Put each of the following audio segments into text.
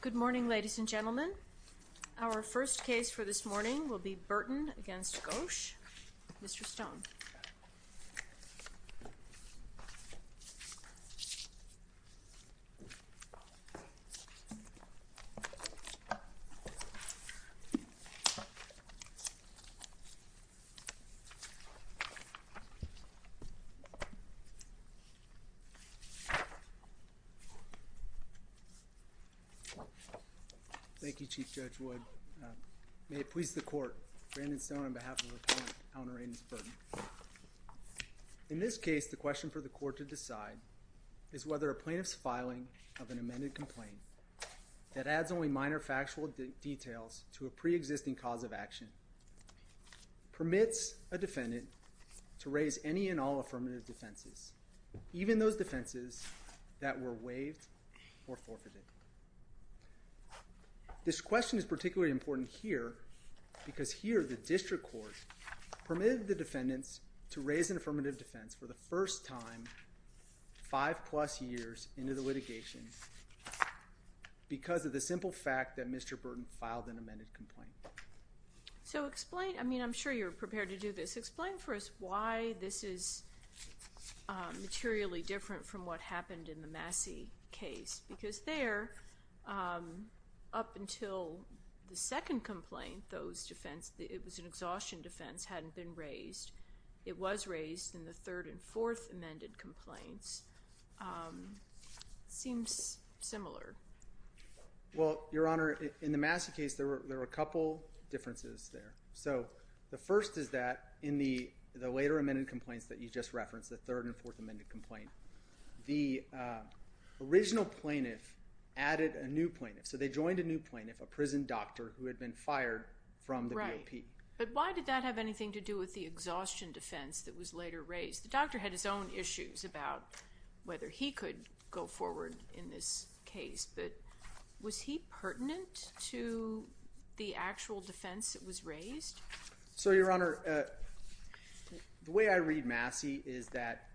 Good morning ladies and gentlemen. Our first case for this morning will be Burton v. Ghosh. Mr. Stone. Thank you Chief Judge Wood. May it please the court, Brandon Stone on behalf of the plaintiff, Alnoraindus Burton. In this case, the question for the court to decide is whether a plaintiff's filing of an amended complaint that adds only minor factual details to a pre-existing cause of action permits a defendant to raise any and all affirmative defenses, even those defenses that were waived or forfeited. This question is particularly important here because here the district court permitted the defendants to raise an affirmative defense for the first time five plus years into the litigation because of the simple fact that Mr. Burton filed an amended complaint. So explain, I mean I'm sure you're prepared to do this, but explain for us why this is materially different from what happened in the Massey case because there, up until the second complaint, it was an exhaustion defense, hadn't been raised. It was raised in the third and fourth amended complaints. It seems similar. Well, Your Honor, in the Massey case there were a couple differences there. So the first is that in the later amended complaints that you just referenced, the third and fourth amended complaint, the original plaintiff added a new plaintiff. So they joined a new plaintiff, a prison doctor who had been fired from the VOP. But why did that have anything to do with the exhaustion defense that was later raised? The doctor had his own issues about whether he could go forward in this case, but was he pertinent to the actual defense that was raised? So, Your Honor, the way I read Massey is that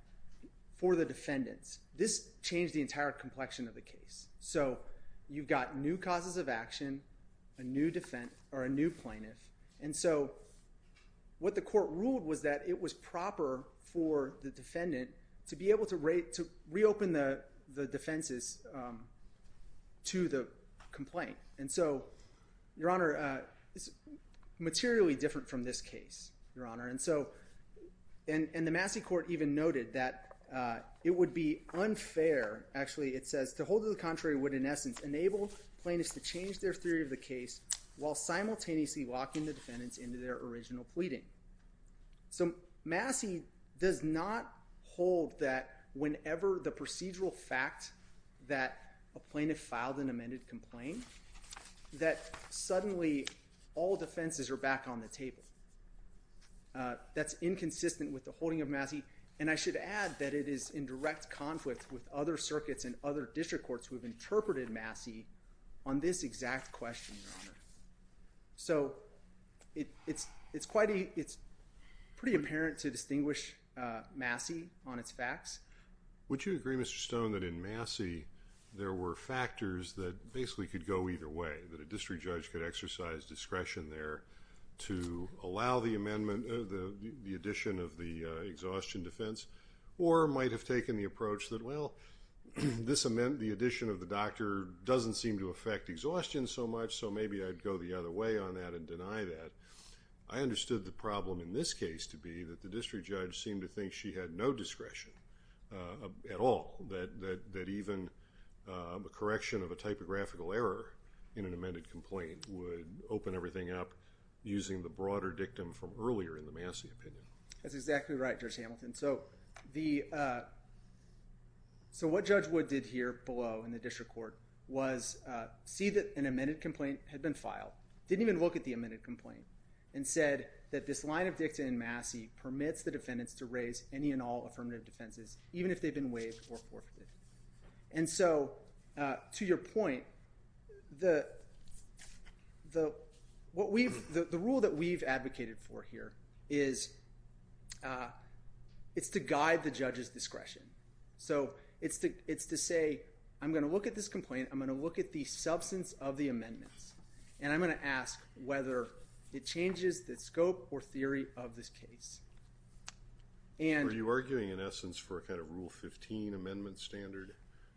for the defendants, this changed the entire complexion of the case. So you've got new causes of action, a new plaintiff, and so what the court ruled was that it was proper for the defendant to be able to reopen the defenses to the complaint. And so, Your Honor, it's materially different from this case, Your Honor. And the Massey court even noted that it would be unfair, actually, it says, to hold to the contrary would, in essence, enable plaintiffs to change their theory of the case while simultaneously locking the defendants into their original pleading. So Massey does not hold that whenever the procedural fact that a plaintiff filed an amended complaint, that suddenly all defenses are back on the table. That's inconsistent with the holding of Massey, and I should add that it is in direct conflict with other circuits and other district courts who have interpreted Massey on this exact question, Your Honor. So it's pretty apparent to distinguish Massey on its facts. Would you agree, Mr. Stone, that in Massey there were factors that basically could go either way, that a district judge could exercise discretion there to allow the addition of the exhaustion defense, or might have taken the approach that, well, the addition of the doctor doesn't seem to affect exhaustion so much, so maybe I'd go the other way on that and deny that. I understood the problem in this case to be that the district judge seemed to think she had no discretion at all, that even a correction of a typographical error in an amended complaint would open everything up using the broader dictum from earlier in the Massey opinion. That's exactly right, Judge Hamilton. So what Judge Wood did here below in the district court was see that an amended complaint had been filed, didn't even look at the amended complaint, and said that this line of dicta in Massey permits the defendants to raise any and all affirmative defenses, even if they've been waived or forfeited. And so to your point, the rule that we've advocated for here is it's to guide the judge's discretion. So it's to say, I'm going to look at this complaint, I'm going to look at the substance of the amendments, and I'm going to ask whether it changes the scope or theory of this case. Are you arguing, in essence, for a kind of Rule 15 amendment standard,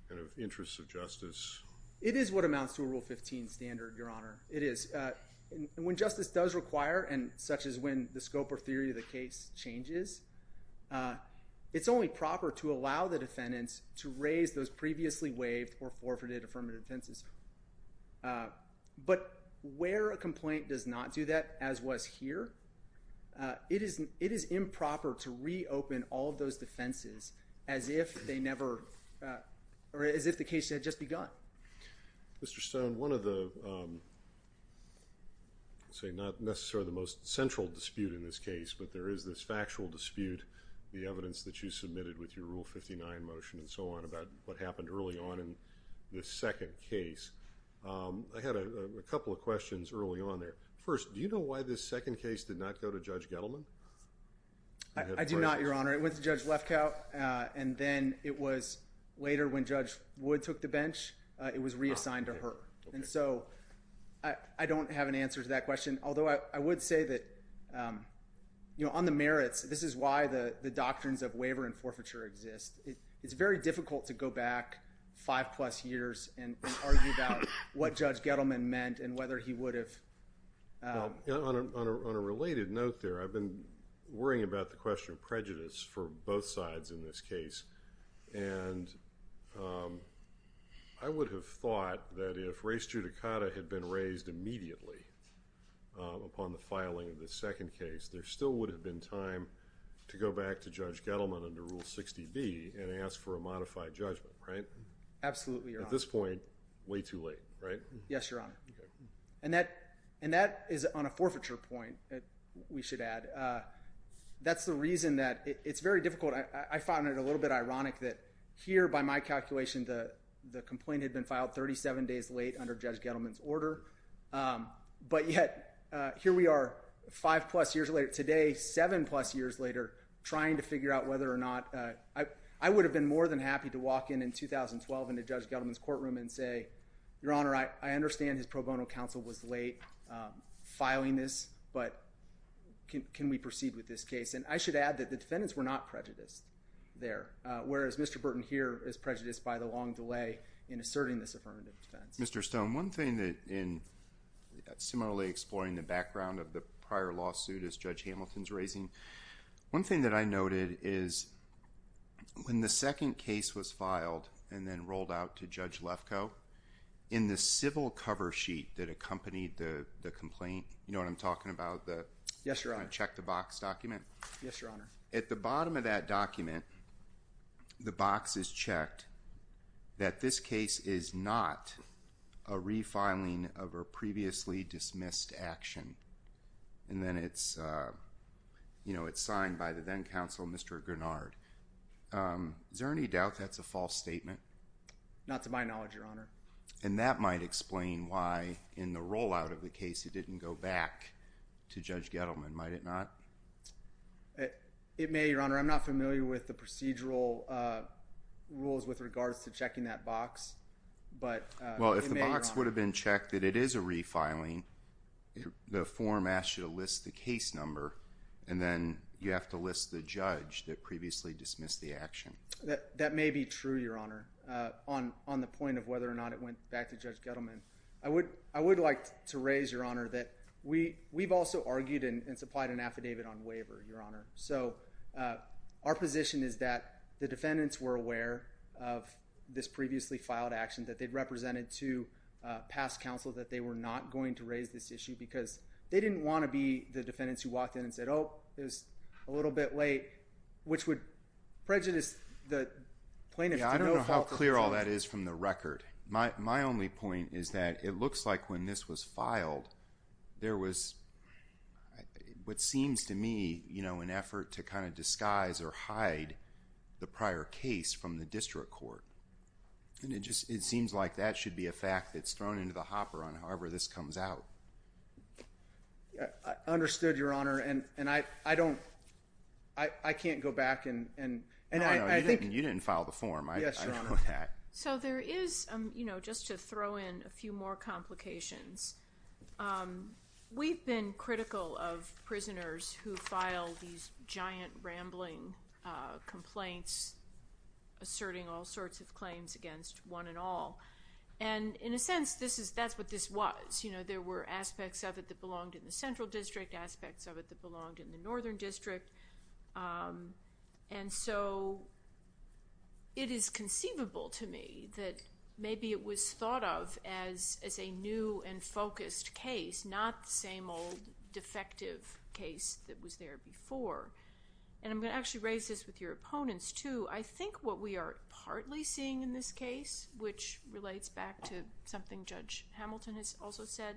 kind of interests of justice? It is what amounts to a Rule 15 standard, Your Honor. It is. When justice does require, and such as when the scope or theory of the case changes, it's only proper to allow the defendants to raise those previously waived or forfeited affirmative defenses. But where a complaint does not do that, as was here, it is improper to reopen all of those defenses as if they never, or as if the case had just begun. Mr. Stone, one of the, say, not necessarily the most central dispute in this case, but there is this factual dispute, the evidence that you submitted with your Rule 59 motion and so on, about what happened early on in this second case. I had a couple of questions early on there. First, do you know why this second case did not go to Judge Gettleman? I do not, Your Honor. It went to Judge Lefkow, and then it was later when Judge Wood took the bench, it was reassigned to her. And so I don't have an answer to that question, although I would say that, you know, on the merits, this is why the doctrines of waiver and forfeiture exist. It's very difficult to go back five-plus years and argue about what Judge Gettleman meant and whether he would have— Well, on a related note there, I've been worrying about the question of prejudice for both sides in this case, and I would have thought that if res judicata had been raised immediately upon the filing of the second case, there still would have been time to go back to Judge Gettleman under Rule 60B and ask for a modified judgment, right? Absolutely, Your Honor. At this point, way too late, right? Yes, Your Honor. And that is on a forfeiture point, we should add. That's the reason that it's very difficult. I find it a little bit ironic that here, by my calculation, the complaint had been filed 37 days late under Judge Gettleman's order, but yet here we are five-plus years later today, seven-plus years later, trying to figure out whether or not— I would have been more than happy to walk in in 2012 into Judge Gettleman's courtroom and say, Your Honor, I understand his pro bono counsel was late filing this, but can we proceed with this case? And I should add that the defendants were not prejudiced there, whereas Mr. Burton here is prejudiced by the long delay in asserting this affirmative defense. Mr. Stone, one thing that in similarly exploring the background of the prior lawsuit as Judge Hamilton's raising, one thing that I noted is when the second case was filed and then rolled out to Judge Lefkoe, in the civil cover sheet that accompanied the complaint, you know what I'm talking about? Yes, Your Honor. The check-the-box document? Yes, Your Honor. At the bottom of that document, the box is checked that this case is not a refiling of a previously dismissed action, and then it's signed by the then-counsel, Mr. Grenard. Is there any doubt that's a false statement? Not to my knowledge, Your Honor. And that might explain why in the rollout of the case it didn't go back to Judge Gettleman, might it not? It may, Your Honor. I'm not familiar with the procedural rules with regards to checking that box, but it may, Your Honor. Well, if the box would have been checked that it is a refiling, the form asks you to list the case number, and then you have to list the judge that previously dismissed the action. That may be true, Your Honor, on the point of whether or not it went back to Judge Gettleman. I would like to raise, Your Honor, that we've also argued and supplied an affidavit on waiver, Your Honor. So our position is that the defendants were aware of this previously filed action that they'd represented to past counsel that they were not going to raise this issue because they didn't want to be the defendants who walked in and said, oh, it was a little bit late, which would prejudice the plaintiff to no fault at all. Yeah, I don't know how clear all that is from the record. My only point is that it looks like when this was filed, there was what seems to me, you know, an effort to kind of disguise or hide the prior case from the district court. And it just seems like that should be a fact that's thrown into the hopper on however this comes out. I understood, Your Honor, and I don't – I can't go back and – No, no, you didn't file the form. Yes, Your Honor. I know that. So there is, you know, just to throw in a few more complications, we've been critical of prisoners who file these giant rambling complaints asserting all sorts of claims against one and all. And in a sense, this is – that's what this was. You know, there were aspects of it that belonged in the Central District, aspects of it that belonged in the Northern District. And so it is conceivable to me that maybe it was thought of as a new and focused case, not the same old defective case that was there before. And I'm going to actually raise this with your opponents too. I think what we are partly seeing in this case, which relates back to something Judge Hamilton has also said,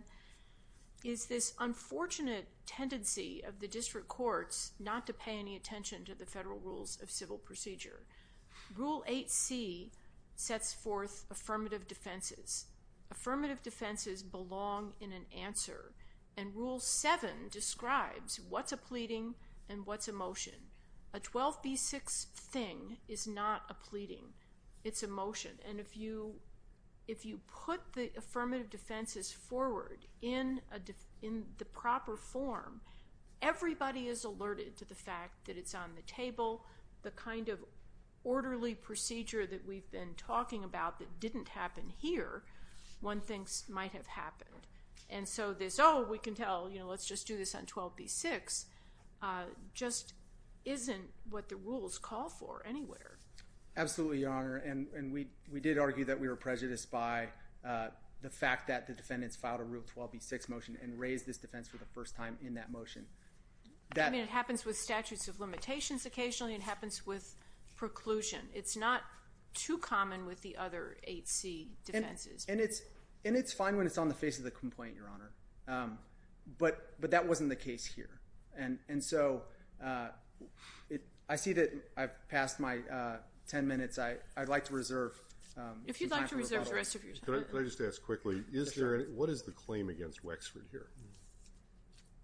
is this unfortunate tendency of the district courts not to pay any attention to the federal rules of civil procedure. Rule 8C sets forth affirmative defenses. Affirmative defenses belong in an answer. And Rule 7 describes what's a pleading and what's a motion. A 12B6 thing is not a pleading. It's a motion. And if you put the affirmative defenses forward in the proper form, everybody is alerted to the fact that it's on the table, the kind of orderly procedure that we've been talking about that didn't happen here, one thinks might have happened. And so this, oh, we can tell, you know, let's just do this on 12B6, just isn't what the rules call for anywhere. Absolutely, Your Honor. And we did argue that we were prejudiced by the fact that the defendants filed a Rule 12B6 motion and raised this defense for the first time in that motion. I mean, it happens with statutes of limitations occasionally. It happens with preclusion. It's not too common with the other 8C defenses. And it's fine when it's on the face of the complaint, Your Honor. But that wasn't the case here. And so I see that I've passed my 10 minutes. I'd like to reserve. If you'd like to reserve the rest of your time. Can I just ask quickly, what is the claim against Wexford here?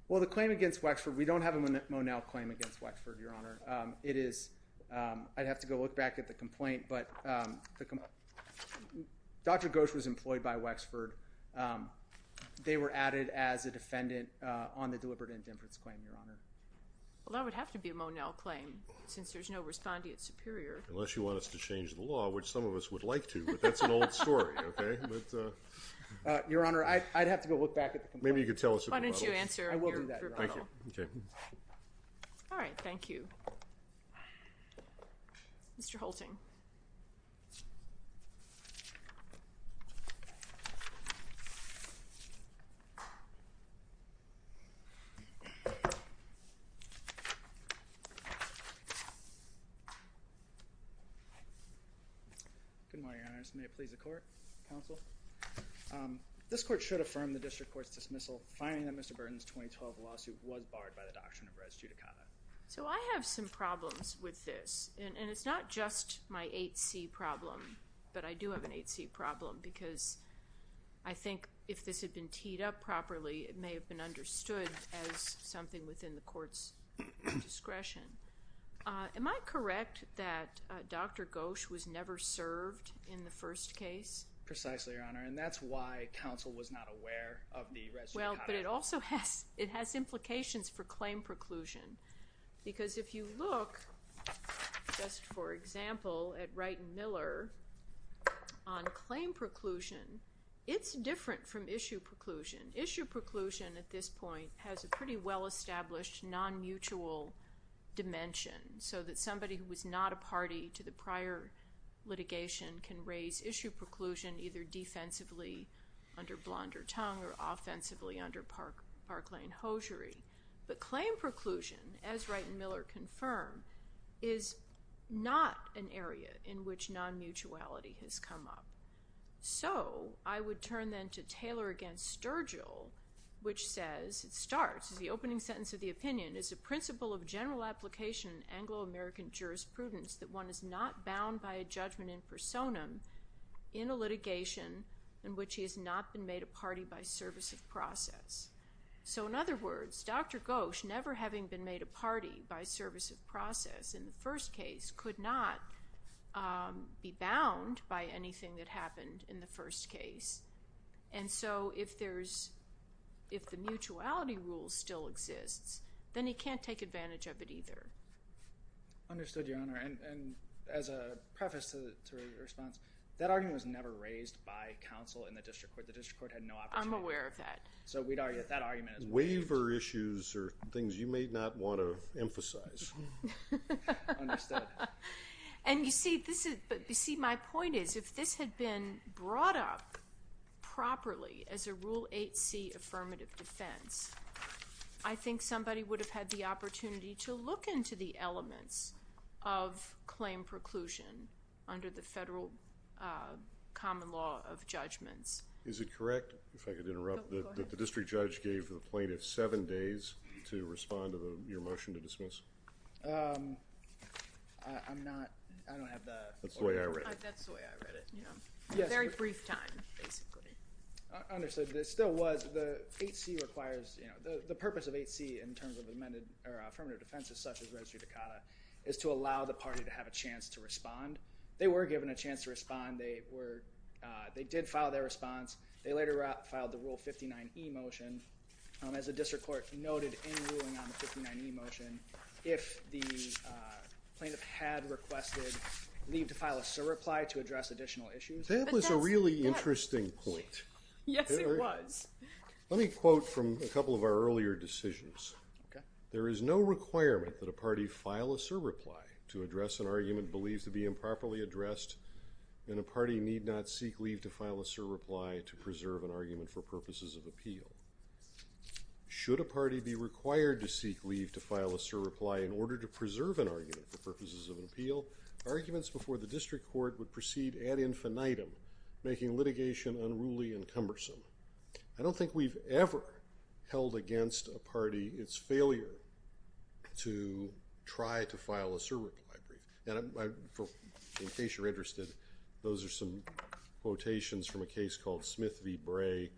Well, the claim against Wexford, we don't have a Monell claim against Wexford, Your Honor. It is, I'd have to go look back at the complaint. But Dr. Ghosh was employed by Wexford. They were added as a defendant on the deliberate indifference claim, Your Honor. Well, that would have to be a Monell claim since there's no respondeat superior. Unless you want us to change the law, which some of us would like to, but that's an old story, okay? Your Honor, I'd have to go look back at the complaint. Maybe you could tell us who the model is. Why don't you answer your question? I will do that, Your Honor. Okay. All right. Thank you. Mr. Holting. Good morning, Your Honor. May it please the court, counsel? This court should affirm the district court's dismissal, finding that Mr. Burton's 2012 lawsuit was barred by the doctrine of res judicata. So I have some problems with this, and it's not just my 8C problem, but I do have an 8C problem because I think if this had been teed up properly, it may have been understood as something within the court's discretion. Am I correct that Dr. Ghosh was never served in the first case? Precisely, Your Honor, and that's why counsel was not aware of the res judicata. Well, but it also has implications for claim preclusion because if you look, just for example, at Wright and Miller on claim preclusion, it's different from issue preclusion. Issue preclusion at this point has a pretty well-established non-mutual dimension so that somebody who is not a party to the prior litigation can raise issue preclusion either defensively under Blond or Tongue or offensively under Parklane-Hosiery. But claim preclusion, as Wright and Miller confirm, is not an area in which non-mutuality has come up. So I would turn then to Taylor v. Sturgill, which says, it starts, the opening sentence of the opinion is a principle of general application in Anglo-American jurisprudence that one is not bound by a judgment in personam in a litigation in which he has not been made a party by service of process. So in other words, Dr. Gosch never having been made a party by service of process in the first case could not be bound by anything that happened in the first case. And so if there's, if the mutuality rule still exists, then he can't take advantage of it either. Understood, Your Honor. And as a preface to the response, that argument was never raised by counsel in the district court. The district court had no opportunity. I'm aware of that. So we'd argue that that argument has been raised. Waiver issues are things you may not want to emphasize. Understood. And you see, this is, you see, my point is, if this had been brought up properly as a Rule 8c affirmative defense, I think somebody would have had the opportunity to look into the elements of claim preclusion under the federal common law of judgments. Is it correct, if I could interrupt? Go ahead. That the district judge gave the plaintiff seven days to respond to your motion to dismiss? I'm not, I don't have the. That's the way I read it. That's the way I read it, yeah. A very brief time, basically. Understood. It still was, the 8c requires, you know, the purpose of 8c in terms of affirmative defenses, such as registry decata, is to allow the party to have a chance to respond. They were given a chance to respond. They were, they did file their response. They later filed the Rule 59e motion. As the district court noted in ruling on the 59e motion, if the plaintiff had requested leave to file a surreply to address additional issues. That was a really interesting point. Yes, it was. Let me quote from a couple of our earlier decisions. Okay. There is no requirement that a party file a surreply to address an argument believed to be improperly addressed, and a party need not seek leave to file a surreply to preserve an argument for purposes of appeal. Should a party be required to seek leave to file a surreply in order to preserve an argument for purposes of an appeal, arguments before the district court would proceed ad infinitum, making litigation unruly and cumbersome. I don't think we've ever held against a party its failure to try to file a surreply brief. In case you're interested, those are some quotations from a case called Smith v. Bray,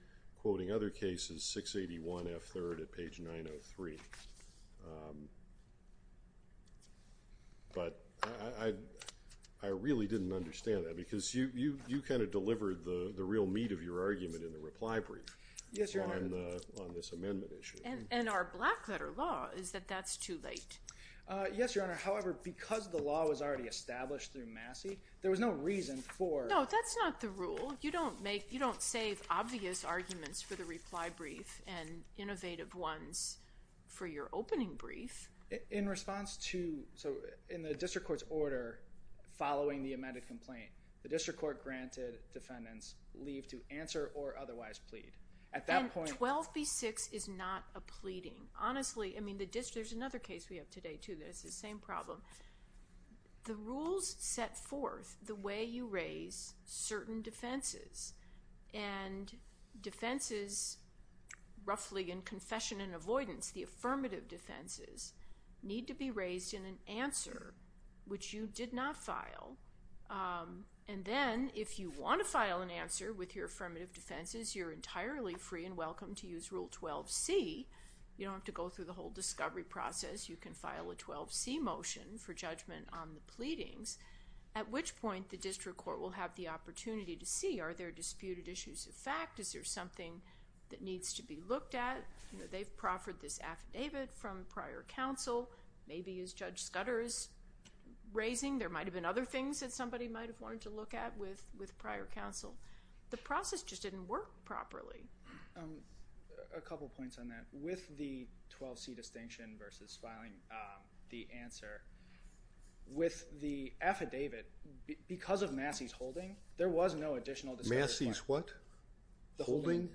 quoting other cases 681F3rd at page 903. But I really didn't understand that because you kind of delivered the real meat of your argument in the reply brief on this amendment issue. And our black letter law is that that's too late. Yes, Your Honor. However, because the law was already established through Massey, there was no reason for... No, that's not the rule. You don't make – you don't save obvious arguments for the reply brief and innovative ones for your opening brief. In response to – so in the district court's order following the amended complaint, the district court granted defendants leave to answer or otherwise plead. At that point... And 12B6 is not a pleading. Honestly, I mean the district – there's another case we have today too that has the same problem. The rules set forth the way you raise certain defenses, and defenses roughly in confession and avoidance, the affirmative defenses, need to be raised in an answer which you did not file. And then if you want to file an answer with your affirmative defenses, you're entirely free and welcome to use Rule 12C. You don't have to go through the whole discovery process. You can file a 12C motion for judgment on the pleadings, at which point the district court will have the opportunity to see, are there disputed issues of fact? Is there something that needs to be looked at? They've proffered this affidavit from prior counsel. Maybe as Judge Scudder is raising, there might have been other things that somebody might have wanted to look at with prior counsel. The process just didn't work properly. A couple points on that. With the 12C distinction versus filing the answer, with the affidavit, because of Massey's holding, there was no additional discovery. Massey's what? The holding.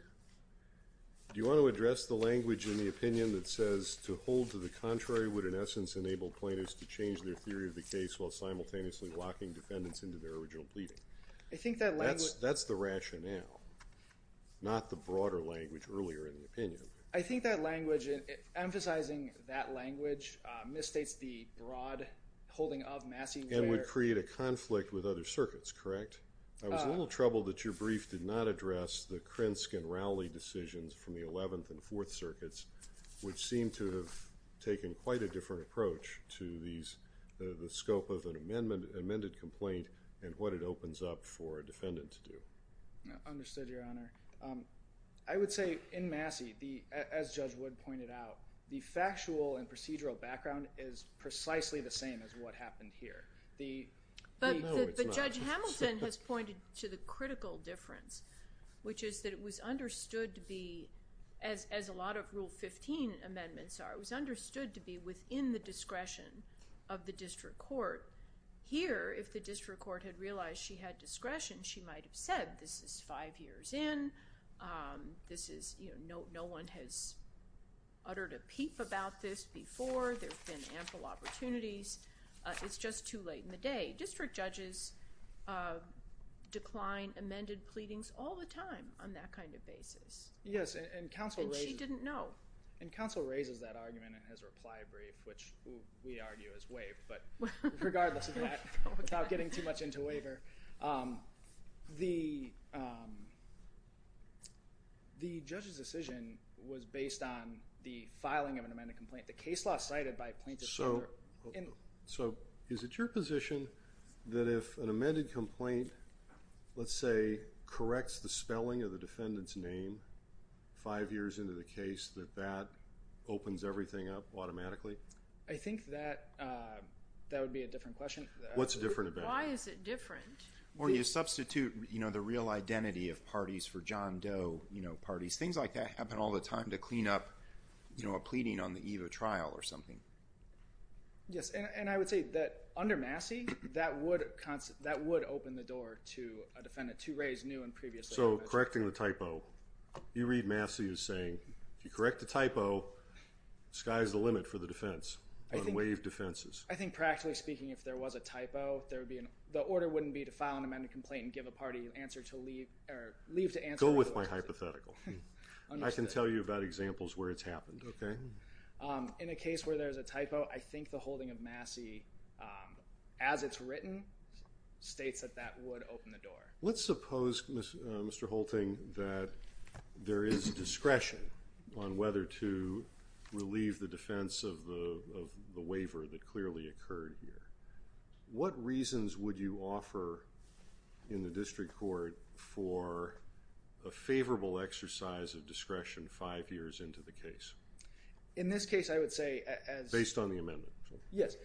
Do you want to address the language in the opinion that says, to hold to the contrary would, in essence, enable plaintiffs to change their theory of the case while simultaneously locking defendants into their original pleading? That's the rationale, not the broader language earlier in the opinion. I think that language, emphasizing that language misstates the broad holding of Massey. And would create a conflict with other circuits, correct? I was a little troubled that your brief did not address the Krensk and Rowley decisions from the 11th and 4th circuits, which seem to have taken quite a different approach to the scope of an amended complaint and what it opens up for a defendant to do. Understood, Your Honor. I would say, in Massey, as Judge Wood pointed out, the factual and procedural background is precisely the same as what happened here. But Judge Hamilton has pointed to the critical difference, which is that it was understood to be, as a lot of Rule 15 amendments are, it was understood to be within the discretion of the district court. Here, if the district court had realized she had discretion, she might have said, this is five years in. No one has uttered a peep about this before. There have been ample opportunities. It's just too late in the day. District judges decline amended pleadings all the time on that kind of basis. And she didn't know. And counsel raises that argument in his reply brief, which we argue is waived, but regardless of that, without getting too much into waiver, the judge's decision was based on the filing of an amended complaint. The case law cited by plaintiffs. So is it your position that if an amended complaint, let's say, corrects the spelling of the defendant's name five years into the case, that that opens everything up automatically? I think that would be a different question. What's different about it? Why is it different? Or you substitute the real identity of parties for John Doe parties. Things like that happen all the time to clean up a pleading on the eve of trial or something. Yes. And I would say that under Massey, that would open the door to a defendant to raise new and previous. So correcting the typo, you read Massey as saying, if you correct the typo, sky's the limit for the defense. Unwaived defenses. I think practically speaking, if there was a typo, there would be an, the order wouldn't be to file an amended complaint and give a party answer to leave or leave to answer. Go with my hypothetical. I can tell you about examples where it's happened. Okay. In a case where there's a typo, I think the holding of Massey as it's written states that that would open the door. Let's suppose Mr. Holting, that there is discretion on whether to relieve the defense of the, of the waiver that clearly occurred here. What reasons would you offer in the district court for a favorable exercise of discretion five years into the case? In this case, I would say as. Based on the amendment. Yes.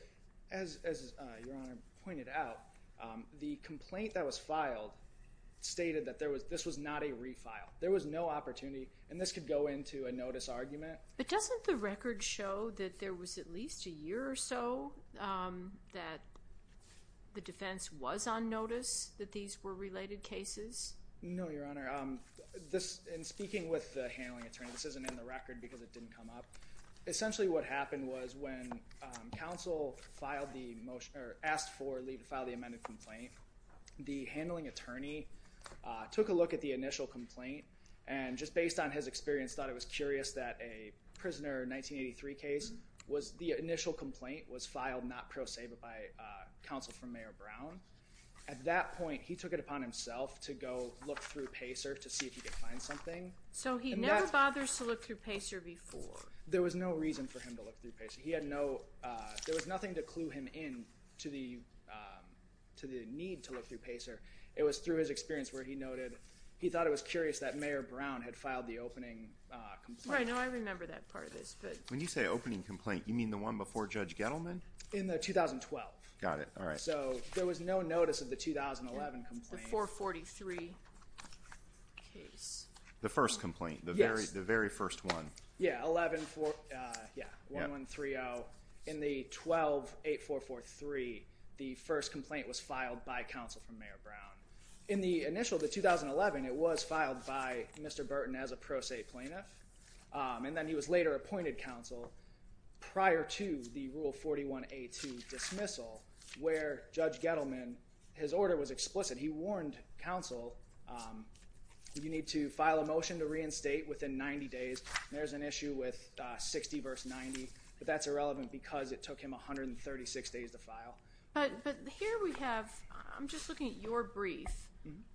As your Honor pointed out, the complaint that was filed stated that there was, this was not a refile. There was no opportunity and this could go into a notice argument. But doesn't the record show that there was at least a year or so that the defense was on notice that these were related cases? No, your Honor. This in speaking with the handling attorney, this isn't in the record because it didn't come up. Essentially what happened was when council filed the motion or asked for leave to file the amended complaint, the handling attorney took a look at the initial complaint and just based on his experience, thought it was curious that a prisoner 1983 case was, the initial complaint was filed, not pro se, but by a council from mayor Brown. At that point, he took it upon himself to go look through Pacer to see if he could find something. So he never bothers to look through Pacer before. There was no reason for him to look through Pacer. He had no, there was nothing to clue him in to the, to the need to look through Pacer. It was through his experience where he noted, he thought it was curious that mayor Brown had filed the opening. I know. I remember that part of this, but when you say opening complaint, you mean the one before judge Gettleman in the 2012. Got it. All right. So there was no notice of the 2011 for 43. The first complaint, the very, the very first one. Yeah. 11, four. Yeah. One, one three. Oh, in the 12, eight, four, three, the first complaint was filed by council from mayor Brown. In the initial, the 2011, it was filed by Mr. Burton as a pro se plaintiff. Um, and then he was later appointed council prior to the rule 41, a two dismissal where judge Gettleman, his order was explicit. He warned council, um, you need to file a motion to reinstate within 90 days. There's an issue with a 60 verse 90, but that's irrelevant because it took him 136 days to file. But, but here we have, I'm just looking at your brief,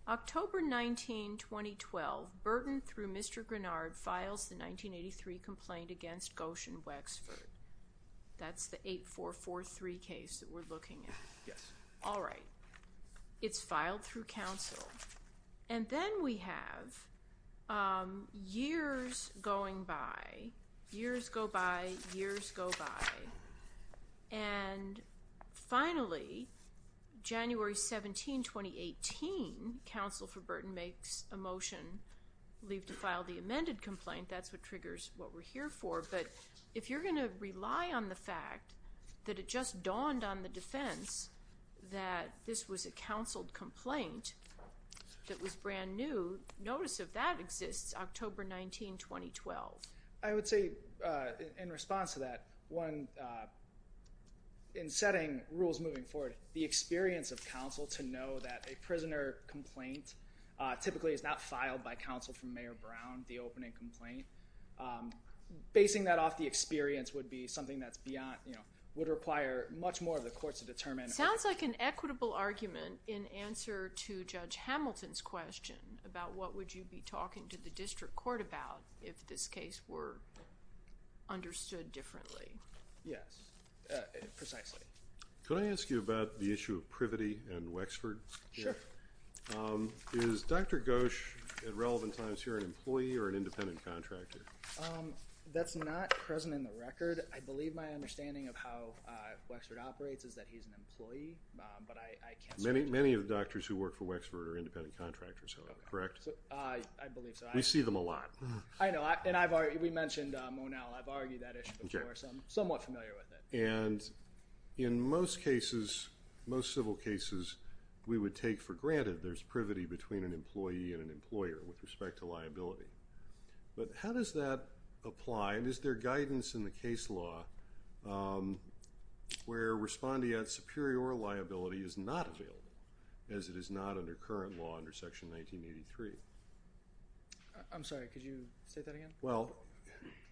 October, 19, 2012 Burton through Mr. Granard files, the 1983 complaint against Goshen Wexford. That's the eight, four, four, three case that we're looking at. Yes. All right. It's filed through council. And then we have, um, years going by years go by years. Go by. And finally, January 17, 2018 council for Burton makes a motion leave to file the amended complaint. That's what triggers what we're here for. But if you're going to rely on the fact that it just dawned on the defense that this was a counseled complaint that was brand new notice of that exists, October, 19, 2012, I would say, uh, in response to that one, uh, in setting rules moving forward, the experience of council to know that a prisoner complaint, uh, typically is not filed by council from mayor Brown. The opening complaint, um, basing that off the experience would be something that's beyond, you know, would require much more of the courts to determine. It sounds like an equitable argument in answer to judge Hamilton's question about what would you be talking to the district court about if this case were understood differently? Yes. Uh, precisely. Can I ask you about the issue of privity and Wexford? Sure. Um, is Dr. Gosh at relevant times here, an employee or an independent contractor? Um, that's not present in the record. I believe my understanding of how, uh, Wexford operates is that he's an employee, but I, I can't many, many of the doctors who work for Wexford are independent contractors, correct? I believe so. We see them a lot. I know. And I've already, we mentioned, um, now I've argued that issue before. So I'm somewhat familiar with it. And in most cases, most civil cases we would take for granted. There's privity between an employee and an employer with respect to liability. But how does that apply? And is there guidance in the case law? Um, where respond to yet superior liability is not available as it is not under current law under section 1983. I'm sorry. Could you say that again? Well,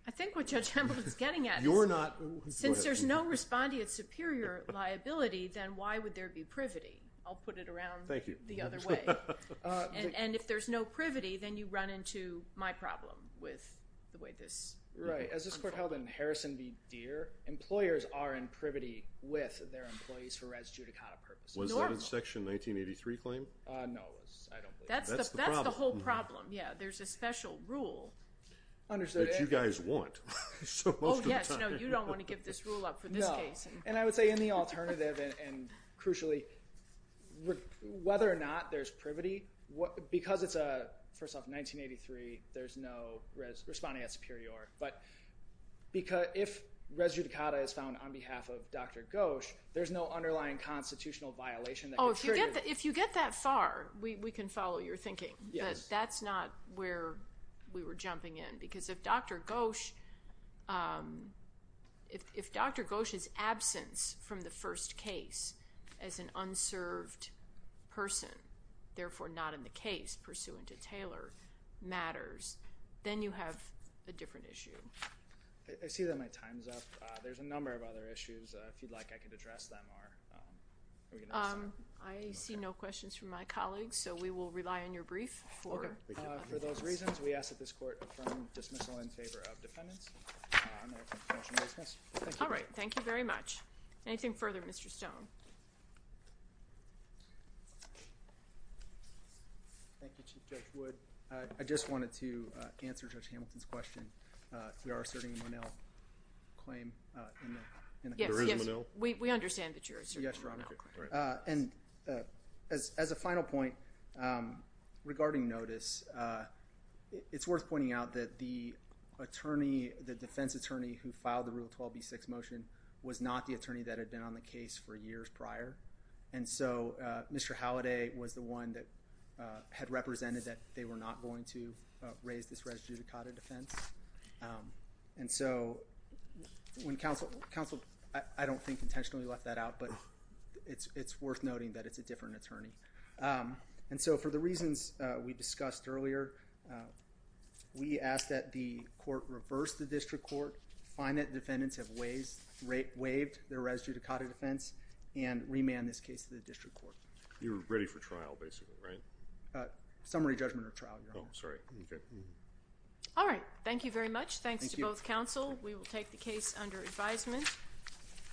I think what judge Campbell is getting at, you're not, since there's no respond to its superior liability, then why would there be privity? I'll put it around the other way. And if there's no privity, then you run into my problem with the way this right. As this court held in Harrison, be dear employers are in privity with their employees for res judicata purpose. Was that in section 1983 claim? Uh, no, I don't believe that's the whole problem. Yeah. There's a special rule. Understood. You guys want. Oh, yes. No, you don't want to give this rule up for this case. And I would say in the alternative and crucially whether or not there's privity, what, because it's a, first off 1983, there's no res responding at superior, but because if res judicata is found on behalf of dr. Gosh, there's no underlying constitutional violation. Oh, if you get that far, we can follow your thinking, but that's not where we were jumping in because of dr. Gosh. Um, if, if dr. Gosh is absence from the first case as an unserved person, therefore not in the case pursuant to Taylor matters, then you have a different issue. I see that my time's up. Uh, there's a number of other issues. Uh, if you'd like, I could address them or, um, I see no questions from my colleagues. So we will rely on your brief for, uh, for those reasons. We ask that this court from dismissal in favor of defendants. All right. Thank you very much. Anything further, Mr. Stone. Thank you. Chief judge would, uh, I just wanted to, uh, answer judge Hamilton's question. Uh, we are asserting one L claim, uh, in the, in the, yes, yes, we, we understand that yours. Yes. Uh, and, and, uh, as, as a final point, um, regarding notice, uh, it, it's worth pointing out that the attorney, the defense attorney who filed the rule 12B6 motion was not the attorney that had been on the case for years prior. And so, uh, Mr. Halliday was the one that, uh, had represented that they were not going to, uh, raise this res judicata defense. Um, and so, when counsel, counsel, I, I don't think intentionally left that out, but it's, it's worth noting that it's a different attorney. Um, and so, for the reasons, uh, we discussed earlier, uh, we ask that the court reverse the district court, find that defendants have ways, waived their res judicata defense, and remand this case to the district court. You're ready for trial, basically, right? Uh, summary judgment or trial, Your Honor. Oh, sorry. Okay. All right. Thank you very much. Thanks to both counsel. Thank you. We will take the case under advisement.